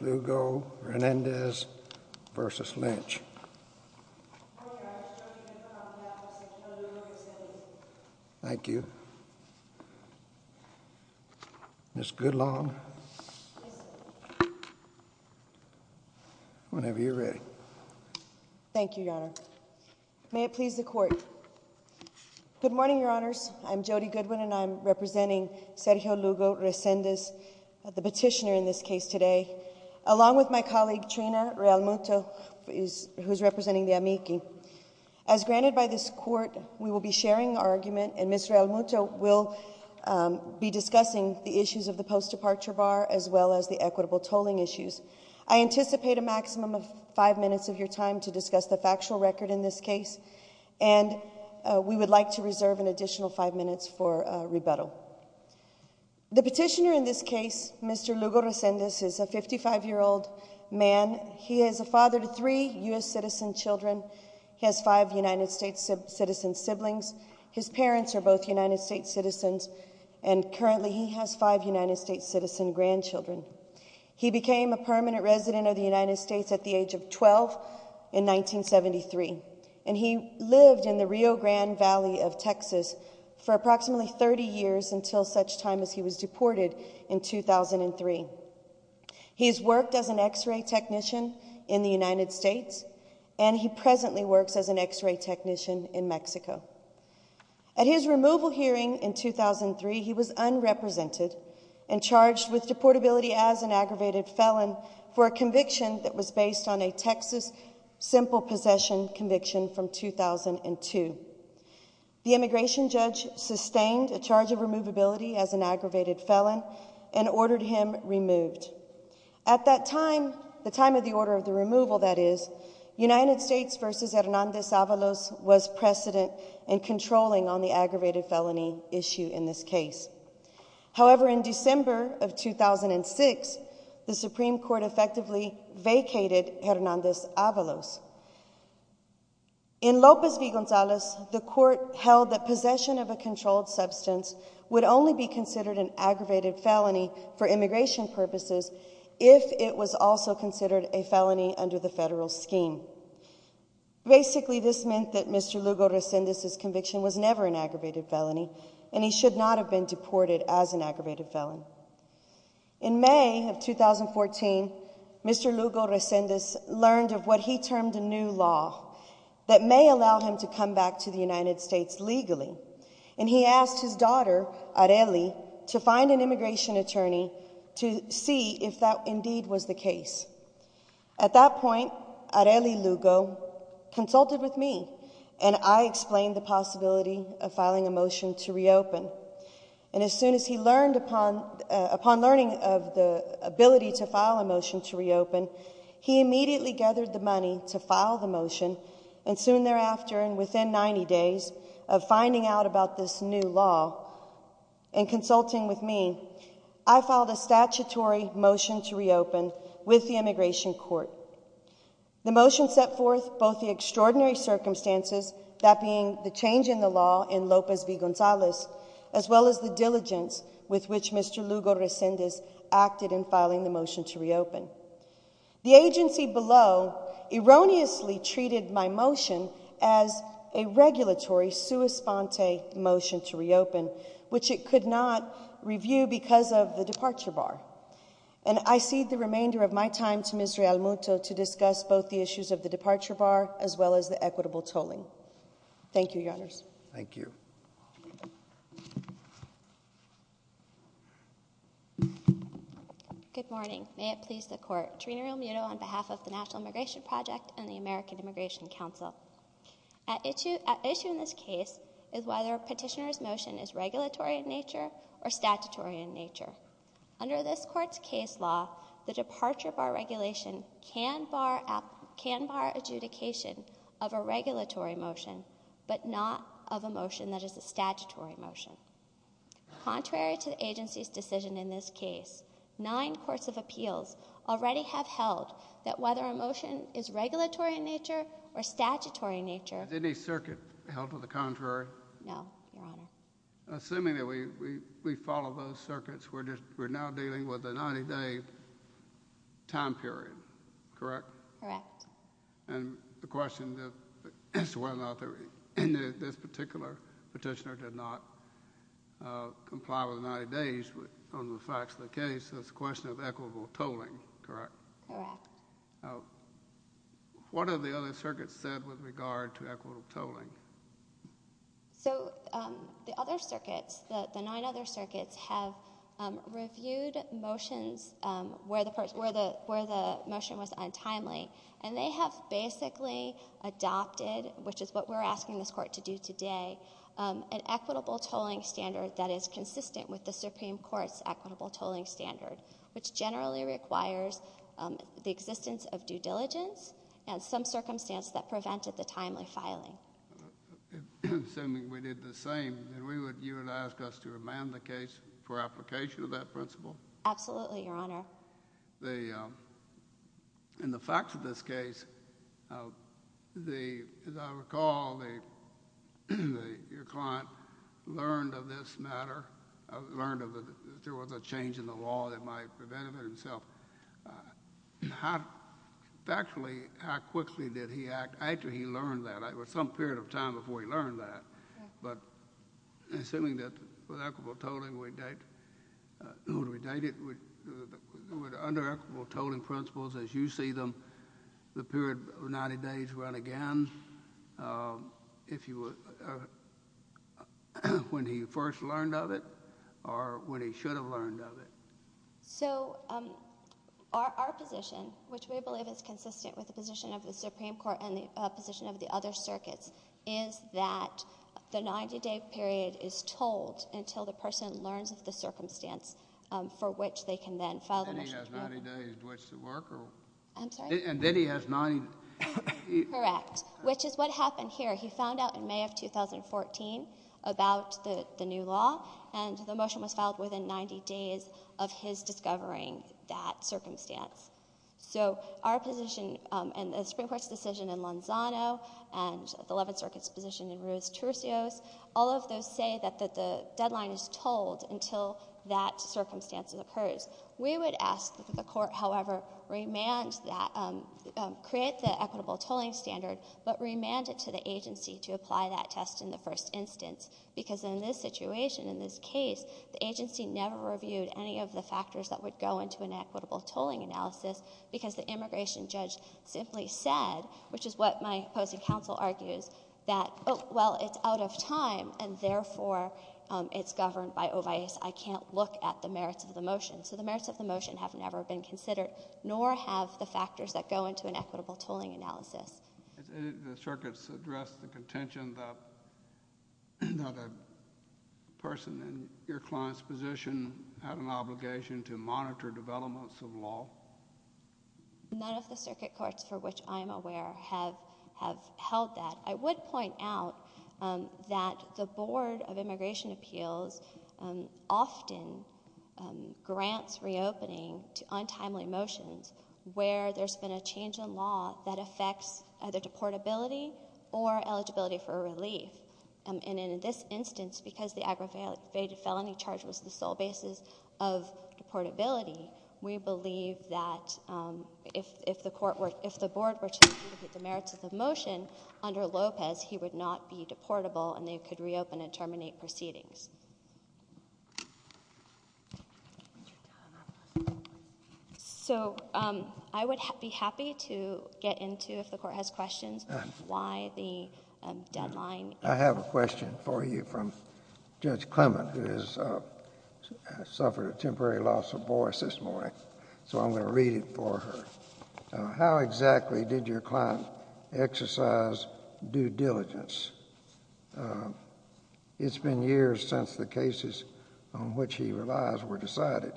Lugo-Resendez v. Lynch Your Honor, Jody Goodwin on behalf of Sergio Lugo-Resendez Thank you Ms. Goodlon Whenever you're ready Thank you, Your Honor. May it please the Court. Good morning, Your Honors. I'm Jody Goodwin and I'm representing Sergio Lugo-Resendez the petitioner in this case today, along with my colleague Trina Realmuto who's representing the amici As granted by this Court, we will be sharing our argument and Ms. Realmuto will be discussing the issues of the post-departure bar as well as the equitable tolling issues. I anticipate a maximum of five minutes of your time to discuss the factual record in this case and we would like to reserve an additional five minutes for rebuttal The petitioner in this case, Mr. Lugo-Resendez is a 55-year-old man. He is a father to three U.S. citizen children. He has five United States citizen siblings His parents are both United States citizens and currently he has five United States citizen grandchildren. He became a permanent resident of the United States at the age of 12 in 1973 and he lived in the Rio Grande Valley of Texas for approximately 30 years until such time as he was deported in 2003. He has worked as an x-ray technician in the United States and he presently works as an x-ray technician in Mexico. At his removal hearing in 2003, he was unrepresented and charged with deportability as an aggravated felon for a conviction that was based on a Texas simple possession conviction from 2002 The immigration judge sustained a charge of removability as an aggravated felon and ordered him removed At that time, the time of the order of the removal that is United States v. Hernandez Avalos was precedent in controlling on the aggravated felony issue in this case However, in December of 2006, the Supreme Court effectively vacated Hernandez Avalos In Lopez v. Gonzalez, the court held that possession of a controlled substance would only be considered an aggravated felony for immigration purposes if it was also considered a felony under the federal scheme Basically, this meant that Mr. Lugo Resendez's conviction was never an aggravated felony and he should not have been deported as an aggravated felon In May of 2014, Mr. Lugo Resendez learned of what he termed a new law that may allow him to come back to the United States legally and he asked his daughter Areli to find an immigration attorney to see if that indeed was the case. At that point, Areli Lugo consulted with me and I explained the possibility of filing a motion to reopen and as soon as he learned upon learning of the ability to file a motion to reopen, he immediately gathered the money to file the motion and soon thereafter and within 90 days of finding out about this new law and consulting with me I filed a statutory motion to reopen with the immigration court. The motion set forth both the extraordinary circumstances, that being the change in the law in Lopez v. Gonzalez as well as the diligence with which Mr. Lugo Resendez acted in filing the motion to reopen. The agency below erroneously treated my motion as a regulatory sua sponte motion to reopen which it could not review because of the departure bar and I cede the remainder of my time to Ms. Realmuto to discuss both the issues of the departure bar as well as the equitable tolling. Thank you, Your Honors. Thank you. Thank you. Good morning. May it please the court. Trina Realmuto on behalf of the National Immigration Project and the American Immigration Council. An issue in this case is whether a petitioner's motion is regulatory in nature or statutory in nature. Under this court's case law, the departure bar regulation can bar adjudication of a regulatory motion but not of a motion that is a statutory motion. Contrary to the agency's decision in this case, nine courts of appeals already have held that whether a motion is regulatory in nature or statutory in nature... Is any circuit held to the contrary? No, Your Honor. Assuming that we follow those circuits, we're now dealing with a 90-day time period, correct? Correct. And the question is whether or not this particular petitioner did not comply with the 90 days on the facts of the case. It's a question of equitable tolling, correct? Correct. What have the other circuits said with regard to equitable tolling? So, the other circuits, the nine other circuits, have reviewed motions where the motion was untimely and they have basically adopted, which is what we're asking this court to do today, an equitable tolling standard that is consistent with the Supreme Court's equitable tolling standard, which generally requires the existence of due diligence and some circumstance that prevented the timely filing. Assuming we did the same, you would ask us to amend the case for application of that principle? Absolutely, Your Honor. Well, in the facts of this case, as I recall, your client learned of this matter, learned that there was a change in the law that might prevent it himself. Factually, how quickly did he act? Actually, he learned that. It was some period of time before he learned that. But assuming that with equitable tolling we date it, would under equitable tolling principles, as you see them, the period of 90 days run again, when he first learned of it or when he should have learned of it? So, our position, which we believe is consistent with the position of the Supreme Court and the position of the other circuits, is that the 90-day period is tolled until the person learns of the circumstance for which they can then file a motion to do it. And then he has 90 days. Correct. Which is what happened here. He found out in May of 2014 about the new law and the motion was filed within 90 days of his discovering that circumstance. So, our position and the Supreme Court's decision in Lanzano and the Eleventh Circuit's position in Lanzano is that the deadline is tolled until that circumstance occurs. We would ask that the Court, however, create the equitable tolling standard but remand it to the agency to apply that test in the first instance because in this situation, in this case, the agency never reviewed any of the factors that would go into an equitable tolling analysis because the immigration judge simply said, which is what my opposing counsel argues, that, oh, well, it's out of time and, therefore, it's governed by ovaes. I can't look at the merits of the motion. So, the merits of the motion have never been considered nor have the factors that go into an equitable tolling analysis. Has any of the circuits addressed the contention that another person in your client's position had an obligation to monitor developments of law? None of the circuit courts for which I am aware have held that. I would point out that the Board of Immigration Appeals often grants reopening to untimely motions where there's been a change in law that affects either deportability or eligibility for relief. And in this instance, because the aggravated felony charge was the sole basis of deportability, we believe that if the Board had the opportunity to look at the merits of the motion under Lopez, he would not be deportable and they could reopen and terminate proceedings. So, I would be happy to get into, if the Court has questions, why the deadline. I have a question for you from Judge Clement, who has suffered a temporary loss of voice this morning. So I'm going to read it for her. How exactly did your client exercise due diligence? It's been years since the cases on which he relies were decided.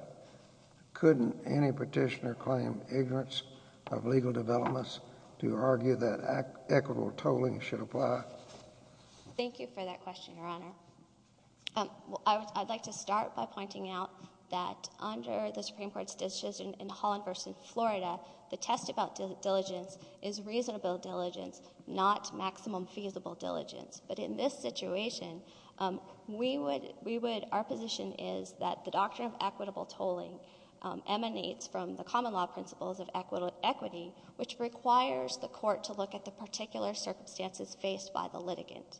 Couldn't any petitioner claim ignorance of legal developments to argue that equitable tolling should apply? Thank you for that question, Your Honor. I'd like to start by pointing out that under the Supreme Court's decision in Holland v. Florida, the test about diligence is reasonable diligence, not maximum feasible diligence. But in this situation, our position is that the doctrine of equitable tolling emanates from the common law principles of equity, which requires the Court to look at the particular circumstances faced by the litigant.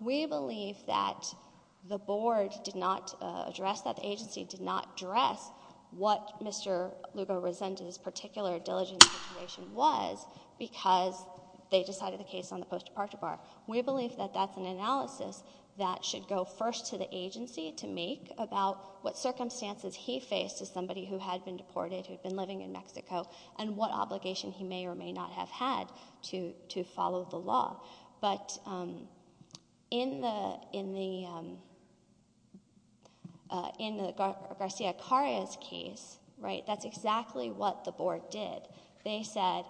We believe that the Board did not address that the agency did not address what Mr. Lugo-Resende's particular diligence situation was because they decided the case on the post-departure bar. We believe that that's an analysis that should go first to the agency to make about what circumstances he faced as somebody who had been deported, who had been living in Mexico, and what obligation he may or may not have had to follow the law. But in the Garcia-Carras case, that's exactly what the Board did. They said,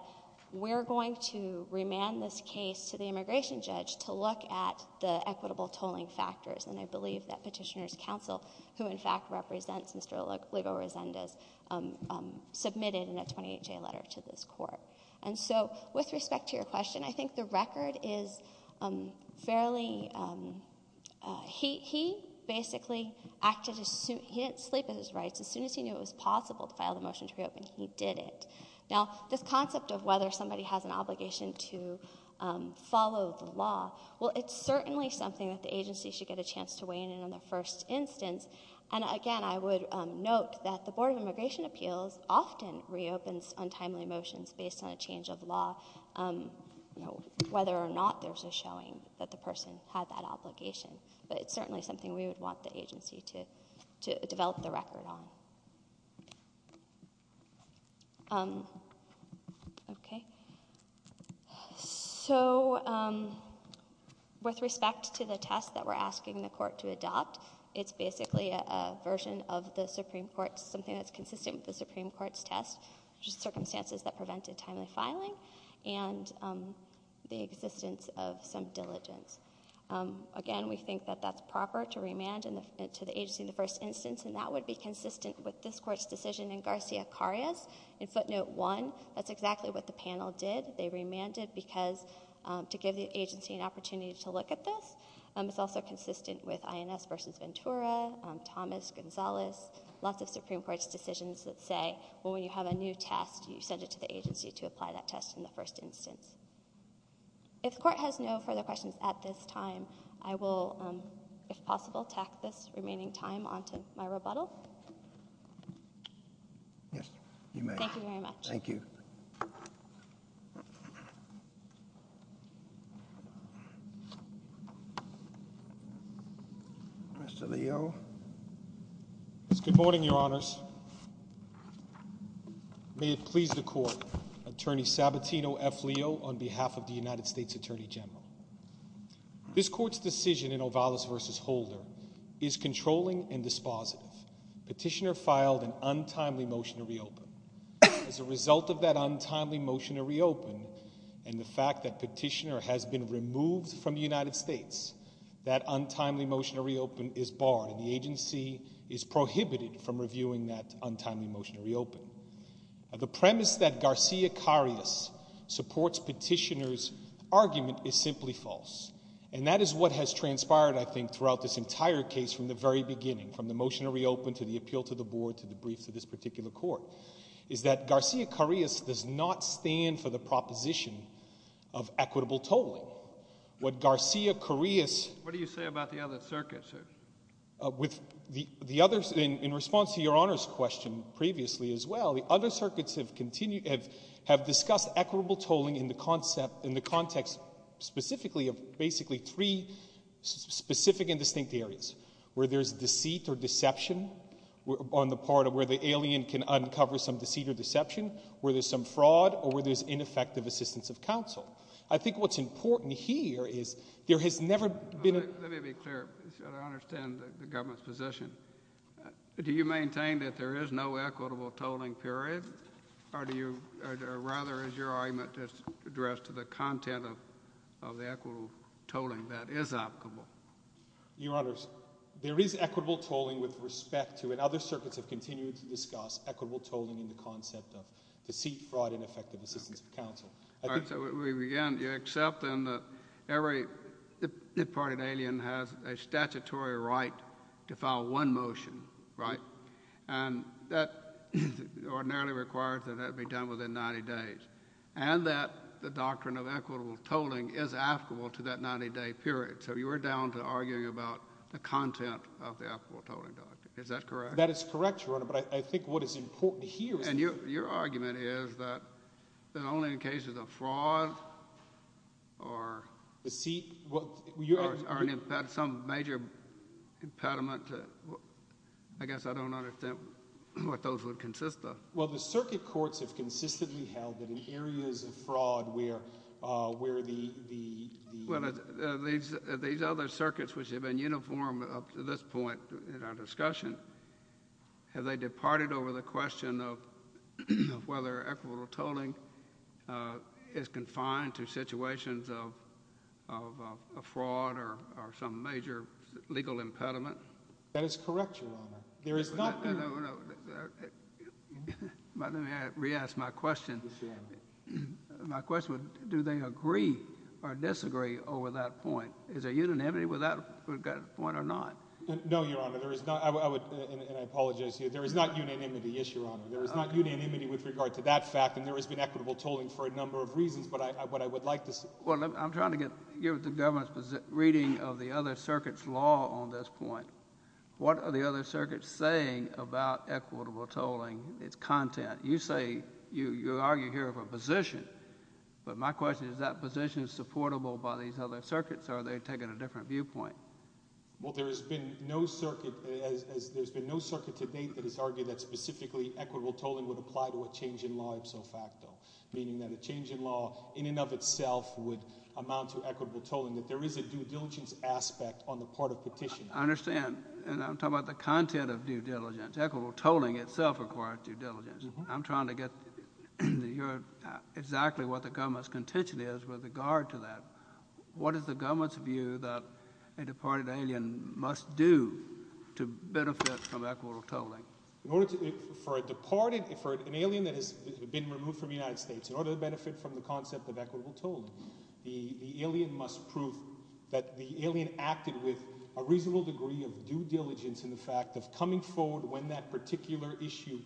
we're going to remand this case to the immigration judge to look at the equitable tolling factors, and I believe that Petitioner's Counsel, who in fact represents Mr. Lugo-Resende, submitted in a 28-J letter to this Court. With respect to your question, I think the record is fairly... he basically acted... he didn't sleep at his rights. As soon as he knew it was possible to file the motion to reopen, he did it. Now, this concept of whether somebody has an obligation to follow the law, well, it's certainly something that the agency should get a chance to weigh in on the first instance, and again, I would note that the Board of Immigration Appeals often reopens untimely motions based on a change of law, whether or not there's a showing that the person had that obligation, but it's certainly something we would want the agency to develop the record on. Okay. So, with respect to the test that we're asking the Court to adopt, it's basically a version of the Supreme Court's... something that's consistent with the Supreme Court's test, which is circumstances that prevented timely filing and the existence of some diligence. Again, we think that that's proper to remand to the agency in the first instance, and that would be consistent with this Court's decision in Garcia-Carras. In footnote 1, that's exactly what the panel did. They remanded because... to give the agency an opportunity to look at this. It's also consistent with INS v. Ventura, Thomas, Gonzalez, lots of Supreme Court's decisions that say, well, when you have a new test, you send it to the agency to apply that test in the first instance. If the Court has no further questions at this time, I will, if possible, tack this remaining time onto my rebuttal. Yes, you may. Thank you very much. Thank you. Mr. Leo. Good morning, Your Honors. May it please the Court, Attorney Sabatino F. Leo on behalf of the United States Attorney General. This Court's decision in Ovalis v. Holder is controlling and dispositive. Petitioner filed an untimely motion to reopen. As a result of that untimely motion to reopen and the fact that Petitioner has been removed from the United States, that untimely motion to reopen is barred, and the agency is prohibited from reviewing that untimely motion to reopen. The premise that Garcia-Carras supports Petitioner's argument is simply false, and that is what has transpired, I think, throughout this entire case from the very beginning, from the motion to reopen to the appeal to the Board to the brief to this particular Court, is that Garcia-Carras does not stand for the proposition of equitable tolling. What Garcia-Carras... What do you say about the other circuit, sir? In response to Your Honor's question previously as well, the other circuits have discussed equitable tolling in the context specifically of basically three specific and distinct areas, where there's deceit or deception on the part of where the alien can uncover some deceit or deception, where there's some fraud, or where there's ineffective assistance of counsel. I think what's important here is there has never been... Let me be clear. I understand the Government's position. Do you maintain that there is no equitable tolling, period? Or do you... Or rather, is your argument just addressed to the content of the equitable tolling that is applicable? Your Honors, there is equitable tolling with respect to... And other circuits have continued to discuss equitable tolling in the concept of deceit, fraud, and ineffective assistance of counsel. I think... All right, so we begin. You're accepting that every part of the alien has a statutory right to file one motion, right? And that ordinarily requires that that be done within 90 days. And that the doctrine of equitable tolling is applicable to that 90-day period. So you are down to arguing about the content of the equitable tolling doctrine. Is that correct? That is correct, Your Honor, but I think what is important here is... And your argument is that only in cases of fraud or... Deceit... Or some major impediment to... I guess I don't understand what those would consist of. Well, the circuit courts have consistently held that in areas of fraud where the... Well, these other circuits, which have been uniform up to this point in our discussion, have they departed over the question of whether equitable tolling is confined to situations of fraud or some major legal impediment? That is correct, Your Honor. There is not... Let me re-ask my question. My question was do they agree or disagree over that point? Is there unanimity with that point or not? No, Your Honor, there is not. And I apologize here. There is not unanimity, yes, Your Honor. There is not unanimity with regard to that fact, and there has been equitable tolling for a number of reasons, but what I would like to... Well, I'm trying to get... give the government's reading of the other circuit's law on this point. What are the other circuits saying about equitable tolling, its content? You say... you argue here of a position, but my question is that position is supportable by these other circuits, or are they taking a different viewpoint? Well, there has been no circuit... there has been no circuit to date that has argued that specifically equitable tolling would apply to a change in law, ipso facto, meaning that a change in law in and of itself would amount to equitable tolling, that there is a due diligence aspect on the part of petitioners. I understand, and I'm talking about the content of due diligence. Equitable tolling itself requires due diligence. I'm trying to get your... exactly what the government's contention is with regard to that. What is the government's view that a departed alien must do to benefit from equitable tolling? In order to... for a departed... for an alien that has been removed from the United States, in order to benefit from the concept of equitable tolling, the alien must prove that the alien acted with a reasonable degree of due diligence in the fact of coming forward when that particular issue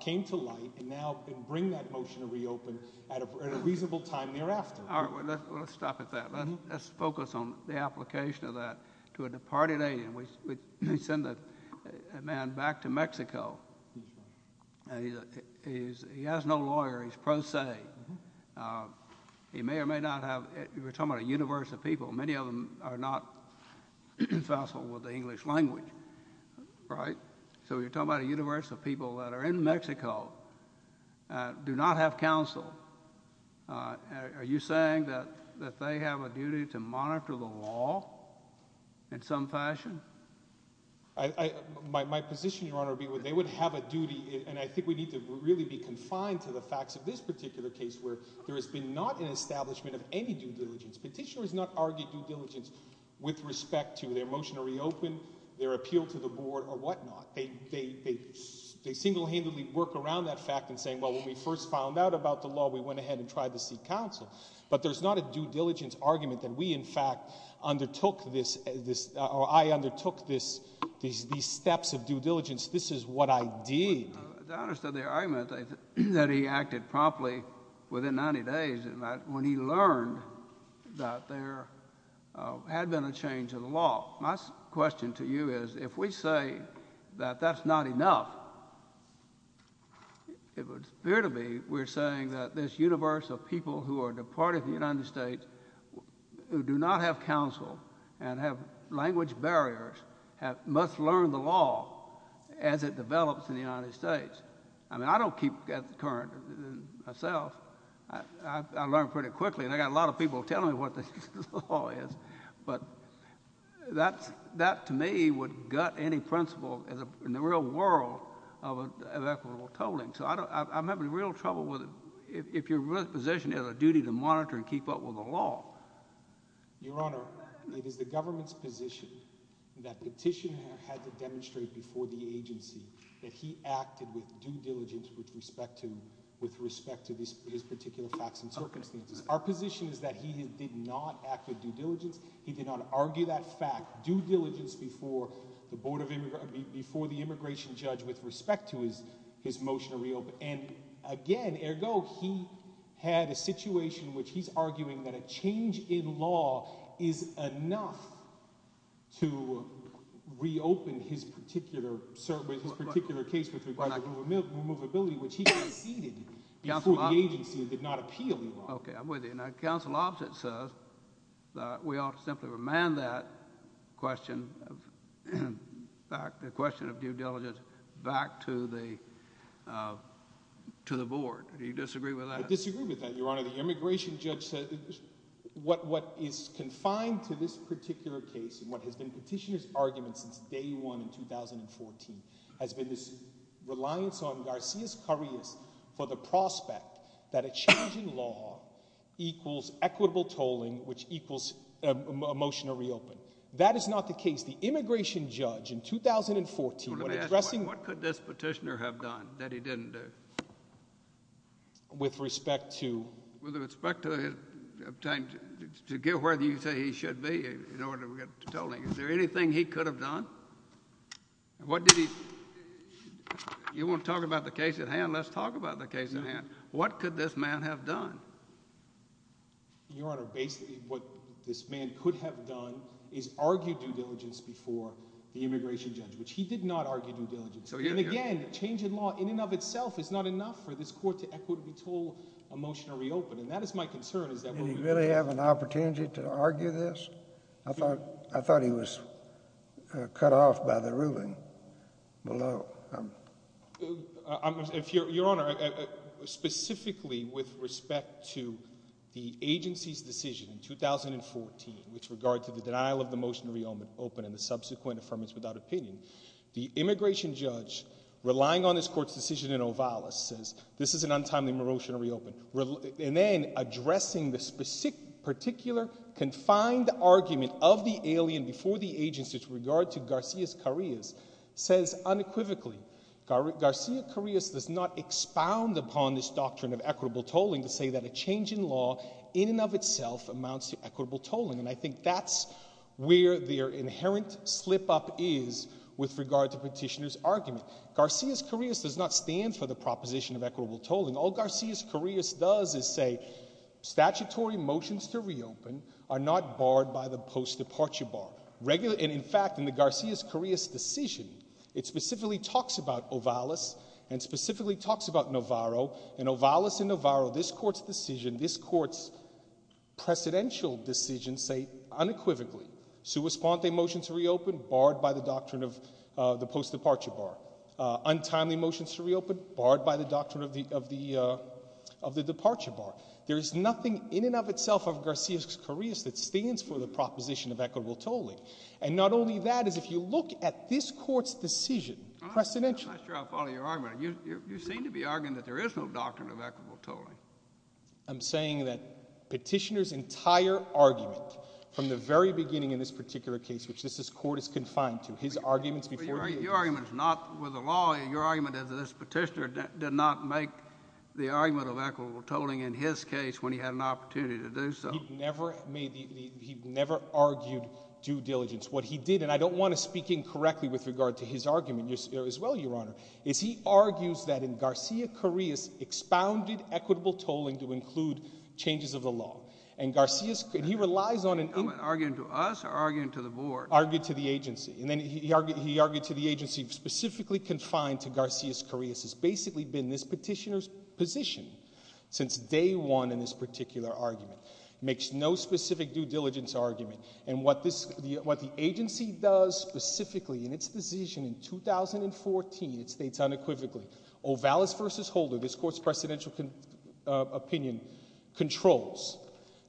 came to light, and now bring that motion to reopen at a reasonable time thereafter. All right, well, let's stop at that. Let's focus on the application of that to a departed alien. We send a man back to Mexico, and he has no lawyer. He's pro se. He may or may not have... we're talking about a universe of people. Many of them are not facile with the English language, right? So we're talking about a universe of people that are in Mexico, do not have counsel. Are you saying that they have a duty to monitor the law in some fashion? My position, Your Honor, would be they would have a duty, and I think we need to really be confined to the facts of this particular case, where there has been not an establishment of any due diligence. Petitioners not argue due diligence with respect to their motion to reopen, their appeal to the board, or whatnot. They single-handedly work around that fact in saying, well, when we first found out about the law, we went ahead and tried to seek counsel. But there's not a due diligence argument that we, in fact, undertook this... or I undertook these steps of due diligence. This is what I did. I understand the argument that he acted promptly within 90 days when he learned that there had been a change in the law. My question to you is, if we say that that's not enough, it would appear to me we're saying that this universe of people who are departed from the United States who do not have counsel and have language barriers must learn the law as it develops in the United States. I mean, I don't keep current myself. I learn pretty quickly, and I've got a lot of people telling me what the law is. But that, to me, would gut any principle in the real world of equitable tolling. So I'm having real trouble with... if your position is a duty to monitor and keep up with the law. Your Honor, it is the government's position that petitioner had to demonstrate before the agency that he acted with due diligence with respect to his particular facts and circumstances. Our position is that he did not act with due diligence. He did not argue that fact. Due diligence before the immigration judge with respect to his motion to reopen. And, again, ergo, he had a situation in which he's arguing that a change in law is enough to reopen his particular case with regard to removability, which he conceded before the agency and did not appeal the law. Okay, I'm with you. Now, counsel opposite says that we ought to simply remand that question of due diligence back to the board. Do you disagree with that? I disagree with that, Your Honor. The immigration judge said what is confined to this particular case and what has been petitioner's argument since day one in 2014 has been this reliance on Garcias-Currias for the prospect that a change in law equals equitable tolling, which equals a motion to reopen. That is not the case. The immigration judge in 2014... Let me ask you, what could this petitioner have done that he didn't do? With respect to... With respect to his... To get where you say he should be in order to get tolling, is there anything he could have done? What did he... You want to talk about the case at hand? Let's talk about the case at hand. What could this man have done? Your Honor, basically what this man could have done is argue due diligence before the immigration judge, which he did not argue due diligence. And again, change in law in and of itself is not enough for this court to equitably toll a motion to reopen. And that is my concern is that... Did he really have an opportunity to argue this? I thought he was cut off by the ruling below. Your Honor, specifically with respect to the agency's decision in 2014 with regard to the denial of the motion to reopen and the subsequent deferments without opinion, the immigration judge relying on this court's decision in Ovalis says, this is an untimely motion to reopen. And then, addressing this particular confined argument of the alien before the agency with regard to Garcia-Carreas says unequivocally, Garcia-Carreas does not expound upon this doctrine of equitable tolling to say that a change in law in and of itself amounts to equitable tolling. And I think that's where their inherent slip-up is with regard to petitioner's argument. Garcia-Carreas does not stand for the proposition of equitable tolling. All Garcia-Carreas does is say, statutory motions to reopen are not barred by the post-departure bar. In fact, in the Garcia-Carreas decision, it specifically talks about Ovalis and specifically talks about Navarro. And Ovalis and Navarro, this court's decision, this court's precedential decision say unequivocally, sua sponte motions to reopen, barred by the doctrine of the post-departure bar. Untimely motions to reopen, barred by the doctrine of the departure bar. There is nothing in and of itself of Garcia-Carreas that stands for the proposition of equitable tolling. And not only that, as if you look at this court's decision, precedential. I'm not sure I follow your argument. You seem to be arguing that there is no doctrine of equitable tolling. I'm saying that from the very beginning in this particular case, which this court is confined to, his arguments before you. Your argument is not with the law. Your argument is that this petitioner did not make the argument of equitable tolling in his case when he had an opportunity to do so. He never made the, he never argued due diligence. What he did, and I don't want to speak incorrectly with regard to his argument as well, Your Honor, is he argues that in Garcia-Carreas expounded equitable tolling to include changes of the law. And Garcia-Carreas, and he relies on an... Are you arguing to us or are you arguing to the board? Arguing to the agency. And then he argued to the agency specifically confined to Garcia-Carreas has basically been this petitioner's position since day one in this particular argument. Makes no specific due diligence argument. And what this, what the agency does specifically in its decision in 2014, it states unequivocally, Ovalis v. Holder, this court's precedential opinion, controls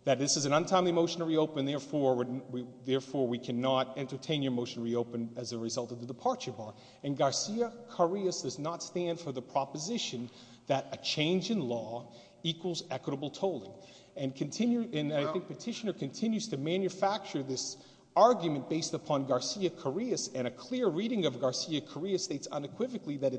that this is an untimely motion to reopen, therefore we cannot entertain your motion to reopen as a result of the departure bar. And Garcia-Carreas does not stand for the proposition that a change in law equals equitable tolling. And I think petitioner continues to manufacture this argument based upon Garcia-Carreas, and a clear reading of Garcia-Carreas states unequivocally that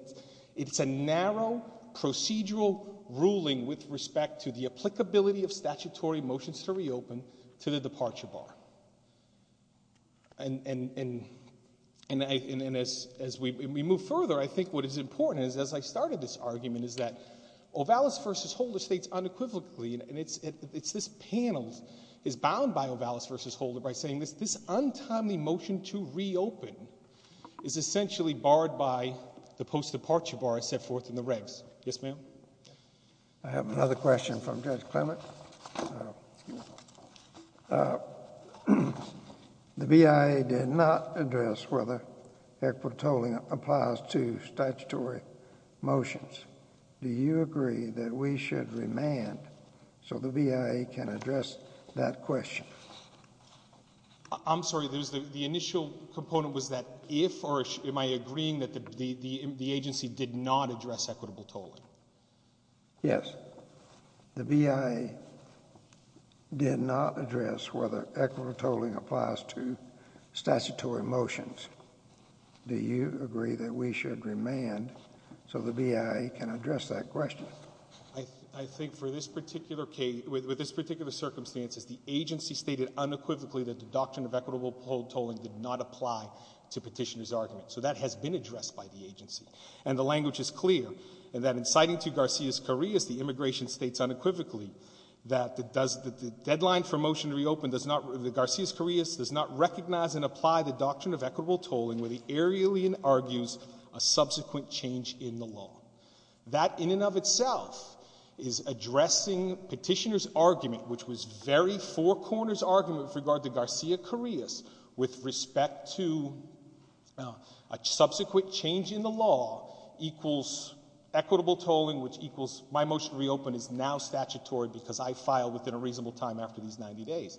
it's a narrow procedural ruling with respect to the applicability of statutory motions to reopen to the departure bar. And as we move further, I think what is important as I started this argument is that Ovalis v. Holder states unequivocally, and it's this panel is bound by Ovalis v. Holder by saying this untimely motion to reopen is essentially barred by the post-departure bar set forth in the regs. Yes, ma'am? I have another question from Judge Clement. The BIA did not address whether equitable tolling applies to statutory motions. Do you agree that we should remand so the BIA can address that question? I'm sorry, the initial component was that if, or am I agreeing that the agency did not address equitable tolling? Yes. The BIA did not address whether equitable tolling applies to statutory motions. Do you agree that we should remand so the BIA can address that question? I think for this particular case, with this particular circumstance, the agency stated unequivocally that the doctrine of equitable tolling did not apply to statutory motions. And the language is clear. And that in citing to Garcia-Carrillas, the immigration states unequivocally that the deadline for motion to reopen does not, the Garcia-Carrillas does not recognize and apply the doctrine of equitable tolling where the aereolian argues a subsequent change in the law. That in and of itself is addressing petitioner's argument, which was very four corners argument with regard to Garcia-Carrillas with respect to a subsequent change in the law equals equitable tolling, which equals my motion to reopen is now statutory because I filed within a reasonable time after these 90 days.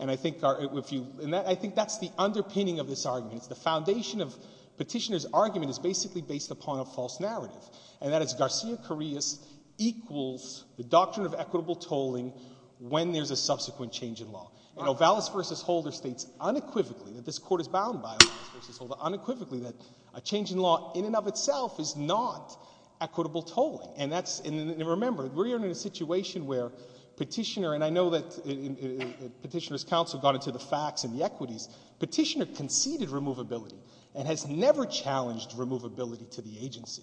And I think that's the underpinning of this argument. It's the foundation of petitioner's argument is basically based upon a false narrative. And that is Garcia-Carrillas equals the doctrine of equitable tolling when there's a subsequent change in law. And Ovalis v. Holder states unequivocally that this court is bound by Ovalis v. Holder unequivocally that a change in law in and of itself is not equitable tolling. And remember, we're in a situation where petitioner, and I know that petitioner's counsel got into the facts and the equities, petitioner conceded removability and has never challenged removability to the agency.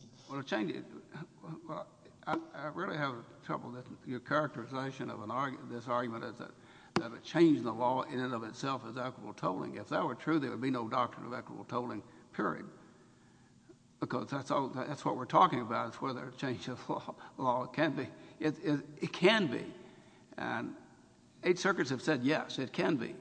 I really have trouble with your characterization of this argument that a change in the law in and of itself is equitable tolling. If that were true, there would be no doctrine of equitable tolling, period. Because that's what we're talking about is whether a change in law can be. It can be. Eight circuits have said yes, it can be.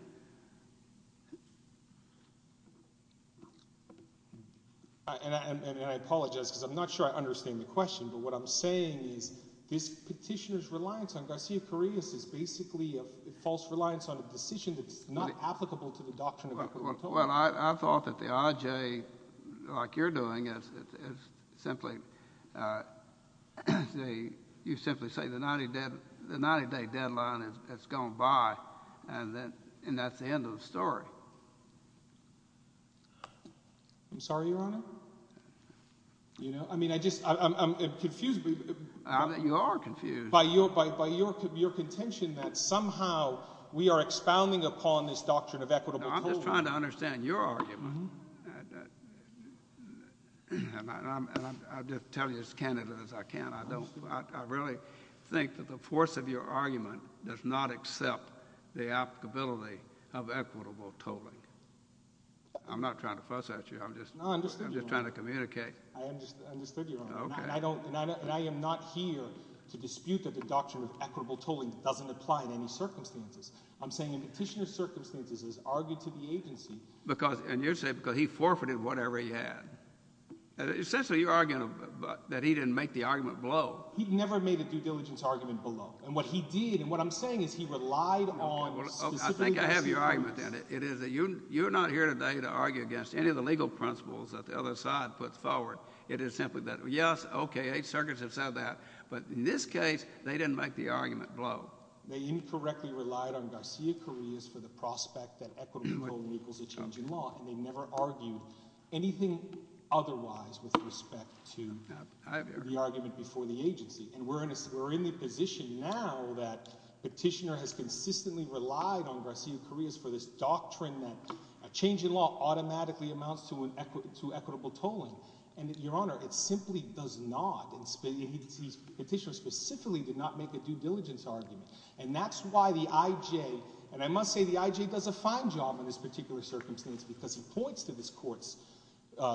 And I apologize because I'm not sure I understand the question. But what I'm saying is this petitioner's reliance on Garcia-Carrillo's is basically a false reliance on a decision that's not applicable to the doctrine of equitable tolling. Well, I thought that the IJ, like you're doing, is simply, you simply say the 90-day deadline has gone by and that's the end of the story. I'm sorry, Your Honor? I mean, I just, I'm confused. You are confused. By your contention that somehow we are expounding upon this doctrine of equitable tolling. I'm just trying to understand your argument. And I'll just tell you as candidly as I can. I really think that the force of your argument does not accept the applicability of equitable tolling. I'm not trying to fuss at you. I'm just trying to communicate. I understood your argument. And I am not here to dispute that the doctrine of equitable tolling doesn't apply in any circumstances. I'm saying the petitioner's circumstances has argued to the agency. And you're saying because he forfeited whatever he had. Essentially, you're arguing that he didn't make the argument below. He never made a due diligence argument below. And what he did, and what I'm saying is he relied on specific I think I have your argument then. It is that you're not here today to argue against any of the legal principles that the other side puts forward. It is simply that yes, okay. Eight circuits have said that. But in this case, they didn't make the argument below. They incorrectly relied on Garcia-Carriz for the prospect that equitable tolling equals a change in law. And they never argued anything otherwise with respect to the argument before the agency. And we're in the position now that petitioner has consistently relied on Garcia-Carriz for this doctrine that a change in law automatically amounts to equitable tolling. And, Your Honor, it simply does not. The petitioner specifically did not make a due diligence argument. And that's why the IJ and I must say the IJ does a fine job in this particular circumstance because he points to this court's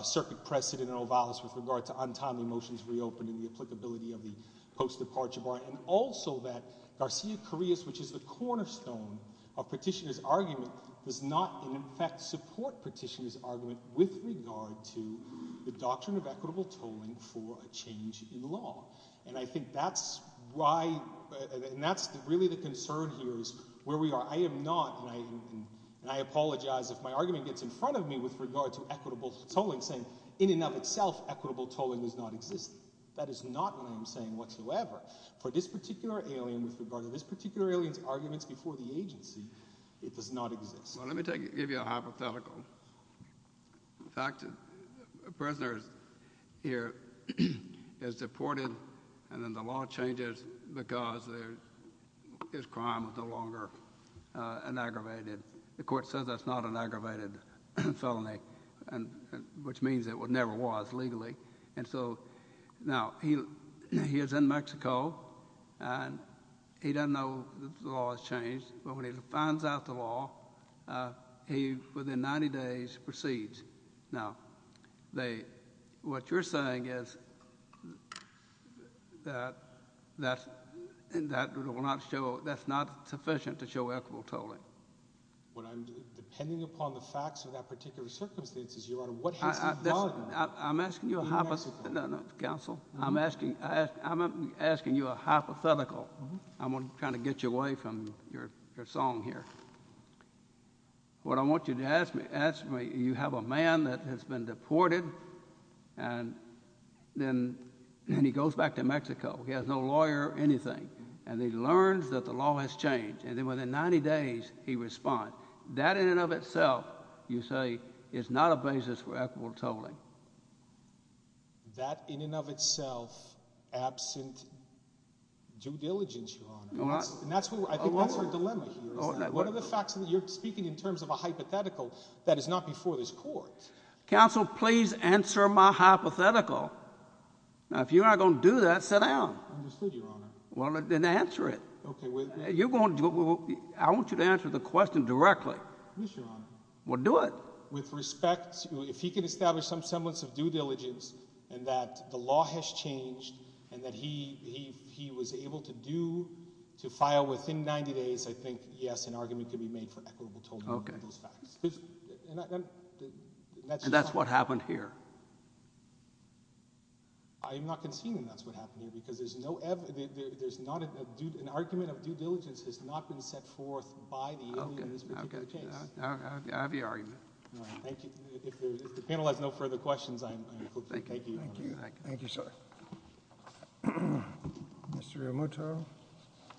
circuit precedent in Ovalis with regard to untimely motions reopened and the applicability of the post-departure bar. And also that Garcia-Carriz, which is the cornerstone of petitioner's argument, does not in effect support petitioner's argument with regard to the doctrine of equitable tolling for a change in law. And I think that's why, and that's really the concern here is where we are. I am not, and I apologize if my argument gets in front of me with regard to equitable tolling saying in and of itself equitable tolling does not exist. That is not what I am saying whatsoever. For this particular alien with regard to this particular alien's arguments before the agency, it does not exist. Well, let me give you a hypothetical. In fact, a prisoner here is deported and then the law changes because his crime is no longer an aggravated the court says that's not an aggravated felony which means it never was legally. And so, now, he is in Mexico and he doesn't know that the law has changed, but when he finds out the law, he, within 90 days, proceeds. Now, what you're saying is that will not show, that's not sufficient to show equitable tolling. What I'm, depending upon the facts of that particular circumstance, Your Honor, what has he done? I'm asking you a hypothetical. No, no, counsel. I'm asking you a hypothetical. I'm trying to get you away from your song here. What I want you to ask me, you have a man that has been deported and then he goes back to Mexico. He has no lawyer or anything. And he learns that the law has changed. And then within 90 days, he responds. That in and of itself, you say, is not a basis for equitable tolling. That in and of itself, absent due diligence, Your Honor. I think that's our dilemma here. What are the facts that you're speaking in terms of a hypothetical that is not before this court? Counsel, please answer my hypothetical. Now, if you're not going to do that, sit down. Understood, Your Honor. Well, then answer it. I want you to answer the question directly. Yes, Your Honor. Well, do it. With respect, if he can establish some semblance of due diligence and that the law has changed and that he was able to do to file within 90 days, I think, yes, an argument could be made for equitable tolling of those facts. And that's what happened here. I'm not conceding that's what happened here because there's not an argument of due diligence that's not been set forth by the alien in this particular case. I have the argument. If the panel has no further questions, I'm sorry. Mr. Yamato,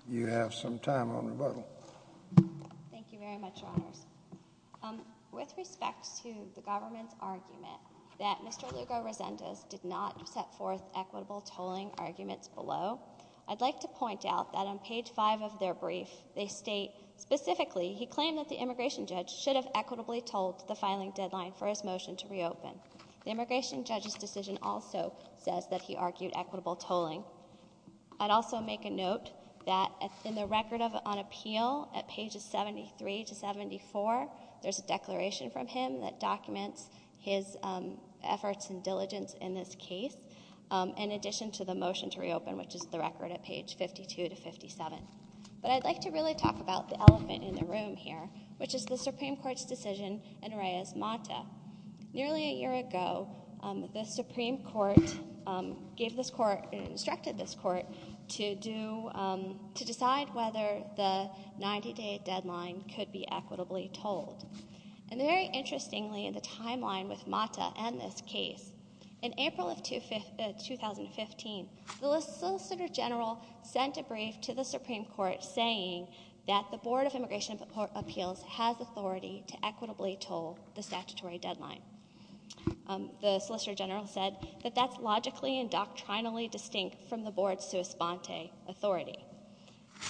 you have some time on rebuttal. Thank you very much, Your Honors. With respect to the government's argument that Mr. Lugo-Resendez did not set forth equitable tolling arguments below, I'd like to point out that on page 5 of their brief, they state specifically he claimed that the immigration judge should have equitably tolled the filing deadline for his motion to reopen. The immigration judge's decision also says that he argued equitable tolling. I'd also make a note that in the record on appeal at pages 73 to 74, there's a declaration from him that documents his efforts and diligence in this case, in addition to the motion to reopen, which is the record at page 52 to 57. But I'd like to really talk about the elephant in the room here, which is the Supreme Court's decision in Reyes-Mata. Nearly a year ago, the Supreme Court instructed this court to decide whether the 90-day deadline could be equitably tolled. And very interestingly, the timeline with Mata and this case, in April of 2015, the Solicitor General sent a brief to the Supreme Court saying that the Board of Immigration Appeals has authority to equitably toll the statutory deadline. The Solicitor General said that that's logically and doctrinally distinct from the Board's sua sponte authority.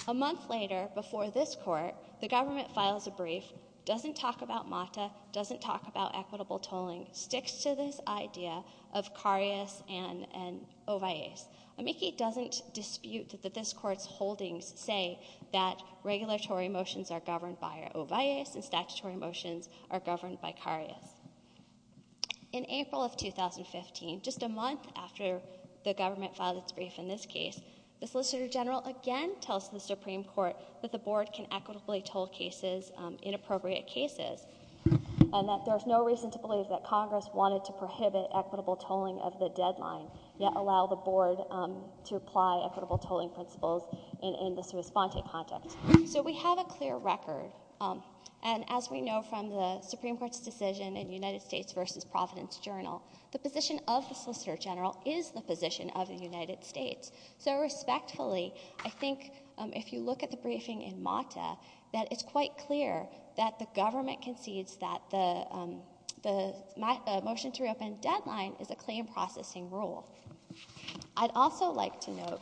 A month later, before this court, the government files a brief, doesn't talk about Mata, doesn't talk about equitable tolling, sticks to this idea of carias and ovias. Amici doesn't dispute that this court's holdings say that regulatory motions are governed by carias. In April of 2015, just a month after the government filed its brief in this case, the Solicitor General again tells the Supreme Court that the Board can equitably toll cases, inappropriate cases, and that there's no reason to believe that Congress wanted to prohibit equitable tolling of the deadline, yet allow the Board to apply equitable tolling principles in the sua sponte context. So we have a clear record, and as we know from the Supreme Court's decision in United States versus Providence Journal, the position of the Solicitor General is the position of the United States. So respectfully, I think if you look at the briefing in Mata, that it's quite clear that the government concedes that the motion to reopen deadline is a claim processing rule. I'd also like to note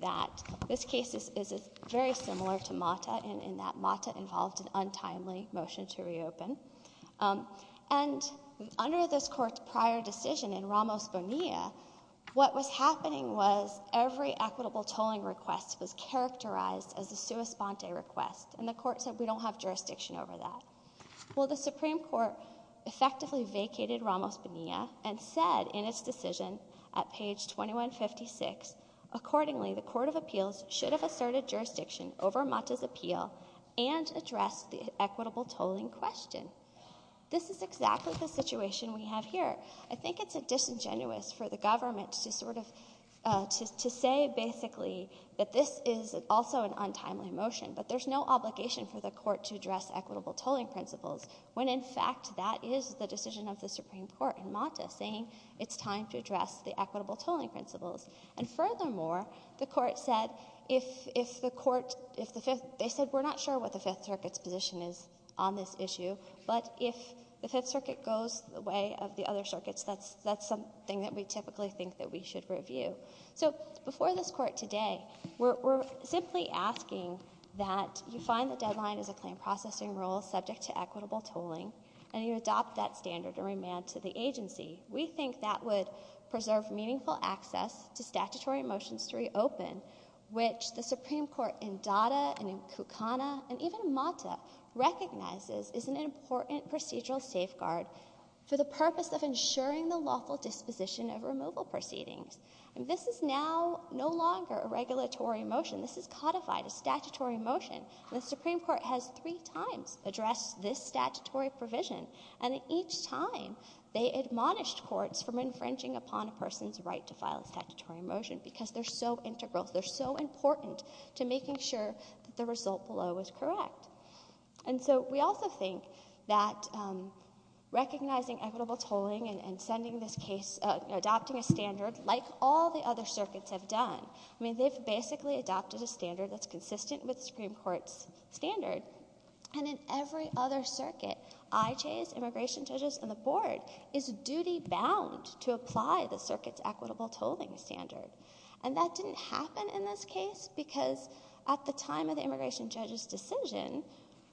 that this case is very similar to Mata, in that Mata involved an untimely motion to reopen. And under this court's prior decision in Ramos Bonilla, what was happening was every equitable tolling request was characterized as a sua sponte request, and the court said we don't have jurisdiction over that. Well, the Supreme Court effectively vacated Ramos Bonilla and said in its decision at page 2156, accordingly, the Court of Appeals should have asserted jurisdiction over Mata's appeal and addressed the equitable tolling question. This is exactly the situation we have here. I think it's disingenuous for the government to sort of say basically that this is also an untimely motion, but there's no obligation for the Court to address equitable tolling principles, when in fact that is the decision of the Supreme Court in Mata, saying it's time to address the equitable tolling principles. And if the Court, if the Fifth, they said we're not sure what the Fifth Circuit's position is on this issue, but if the Fifth Circuit goes the way of the other circuits, that's something that we typically think that we should review. So before this Court today, we're simply asking that you find the deadline is a claim processing rule subject to equitable tolling, and you adopt that standard and remand to the agency. We think that would preserve meaningful access to statutory motions to reopen, which the Supreme Court in Dada and in Kukana and even Mata recognizes is an important procedural safeguard for the purpose of ensuring the lawful disposition of removal proceedings. This is now no longer a regulatory motion. This is codified as statutory motion. The Supreme Court has three times addressed this statutory provision, and each time they admonished courts from infringing upon a person's right to file a statutory motion because they're so integral, they're so important to making sure that the result below is correct. And so we also think that recognizing equitable tolling and sending this case, adopting a standard like all the other circuits have done. I mean, they've basically adopted a standard that's consistent with the Supreme Court's standard. And in every other circuit, IJs, immigration judges, and the Board is duty bound to apply the circuit's equitable tolling standard. And that didn't happen in this case because at the time of the immigration judge's decision,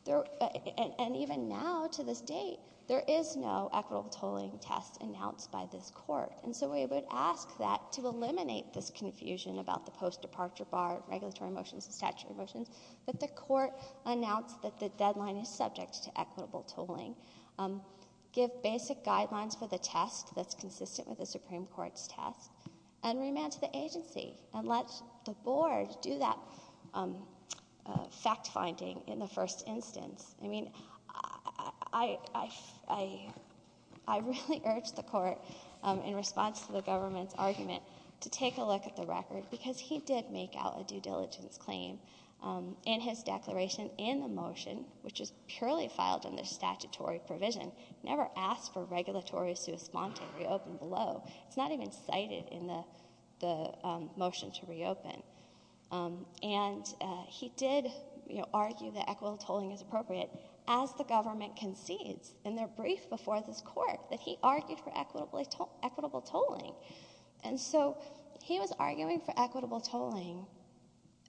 and even now to this date, there is no equitable tolling test announced by this court. And so we would ask that to eliminate this confusion about the post-departure bar, regulatory motions, and statutory motions, that the court announce that the deadline is subject to equitable tolling. Give basic guidelines for the test that's consistent with the Supreme Court's test, and remand to the agency and let the Board do that fact-finding in the first instance. I mean, I really urge the court in response to the government's argument to take a look at the record because he did make out a due diligence claim in his declaration and the motion, which is purely filed in the statutory provision, never asked for regulatory response to reopen below. It's not even cited in the motion to reopen. And he did argue that equitable tolling is appropriate as the government concedes in their brief before this court that he argued for equitable tolling. And so he was arguing for equitable tolling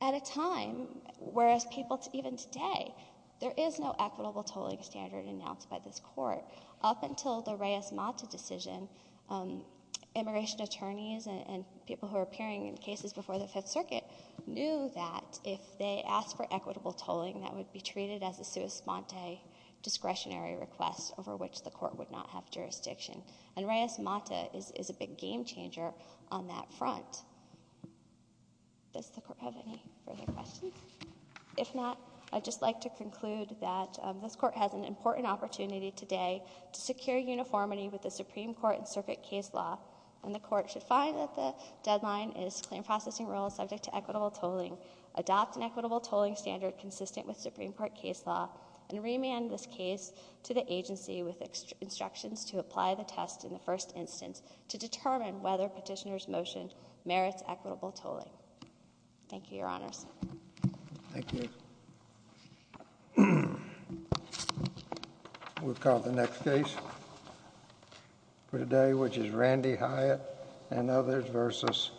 at a time where people, even today, there is no equitable tolling standard announced by this court. Up until the Reyes-Mata decision, immigration attorneys and people who are appearing in cases before the Fifth Circuit knew that if they asked for equitable tolling, that would be treated as a sua sponte discretionary request over which the court would not have jurisdiction. And Reyes-Mata is a big game-changer on that front. Does the court have any further questions? If not, I'd just like to conclude that this court has an important opportunity today to secure uniformity with the Supreme Court and circuit case law, and the court should find that the deadline is claim processing rule subject to equitable tolling, adopt an equitable tolling standard consistent with Supreme Court case law, and remand this case to the agency with instructions to apply the test in the first instance to determine whether petitioner's motion merits equitable tolling. Thank you, Your Honors. Thank you. We'll call the next case for today, which is Randy Hyatt v.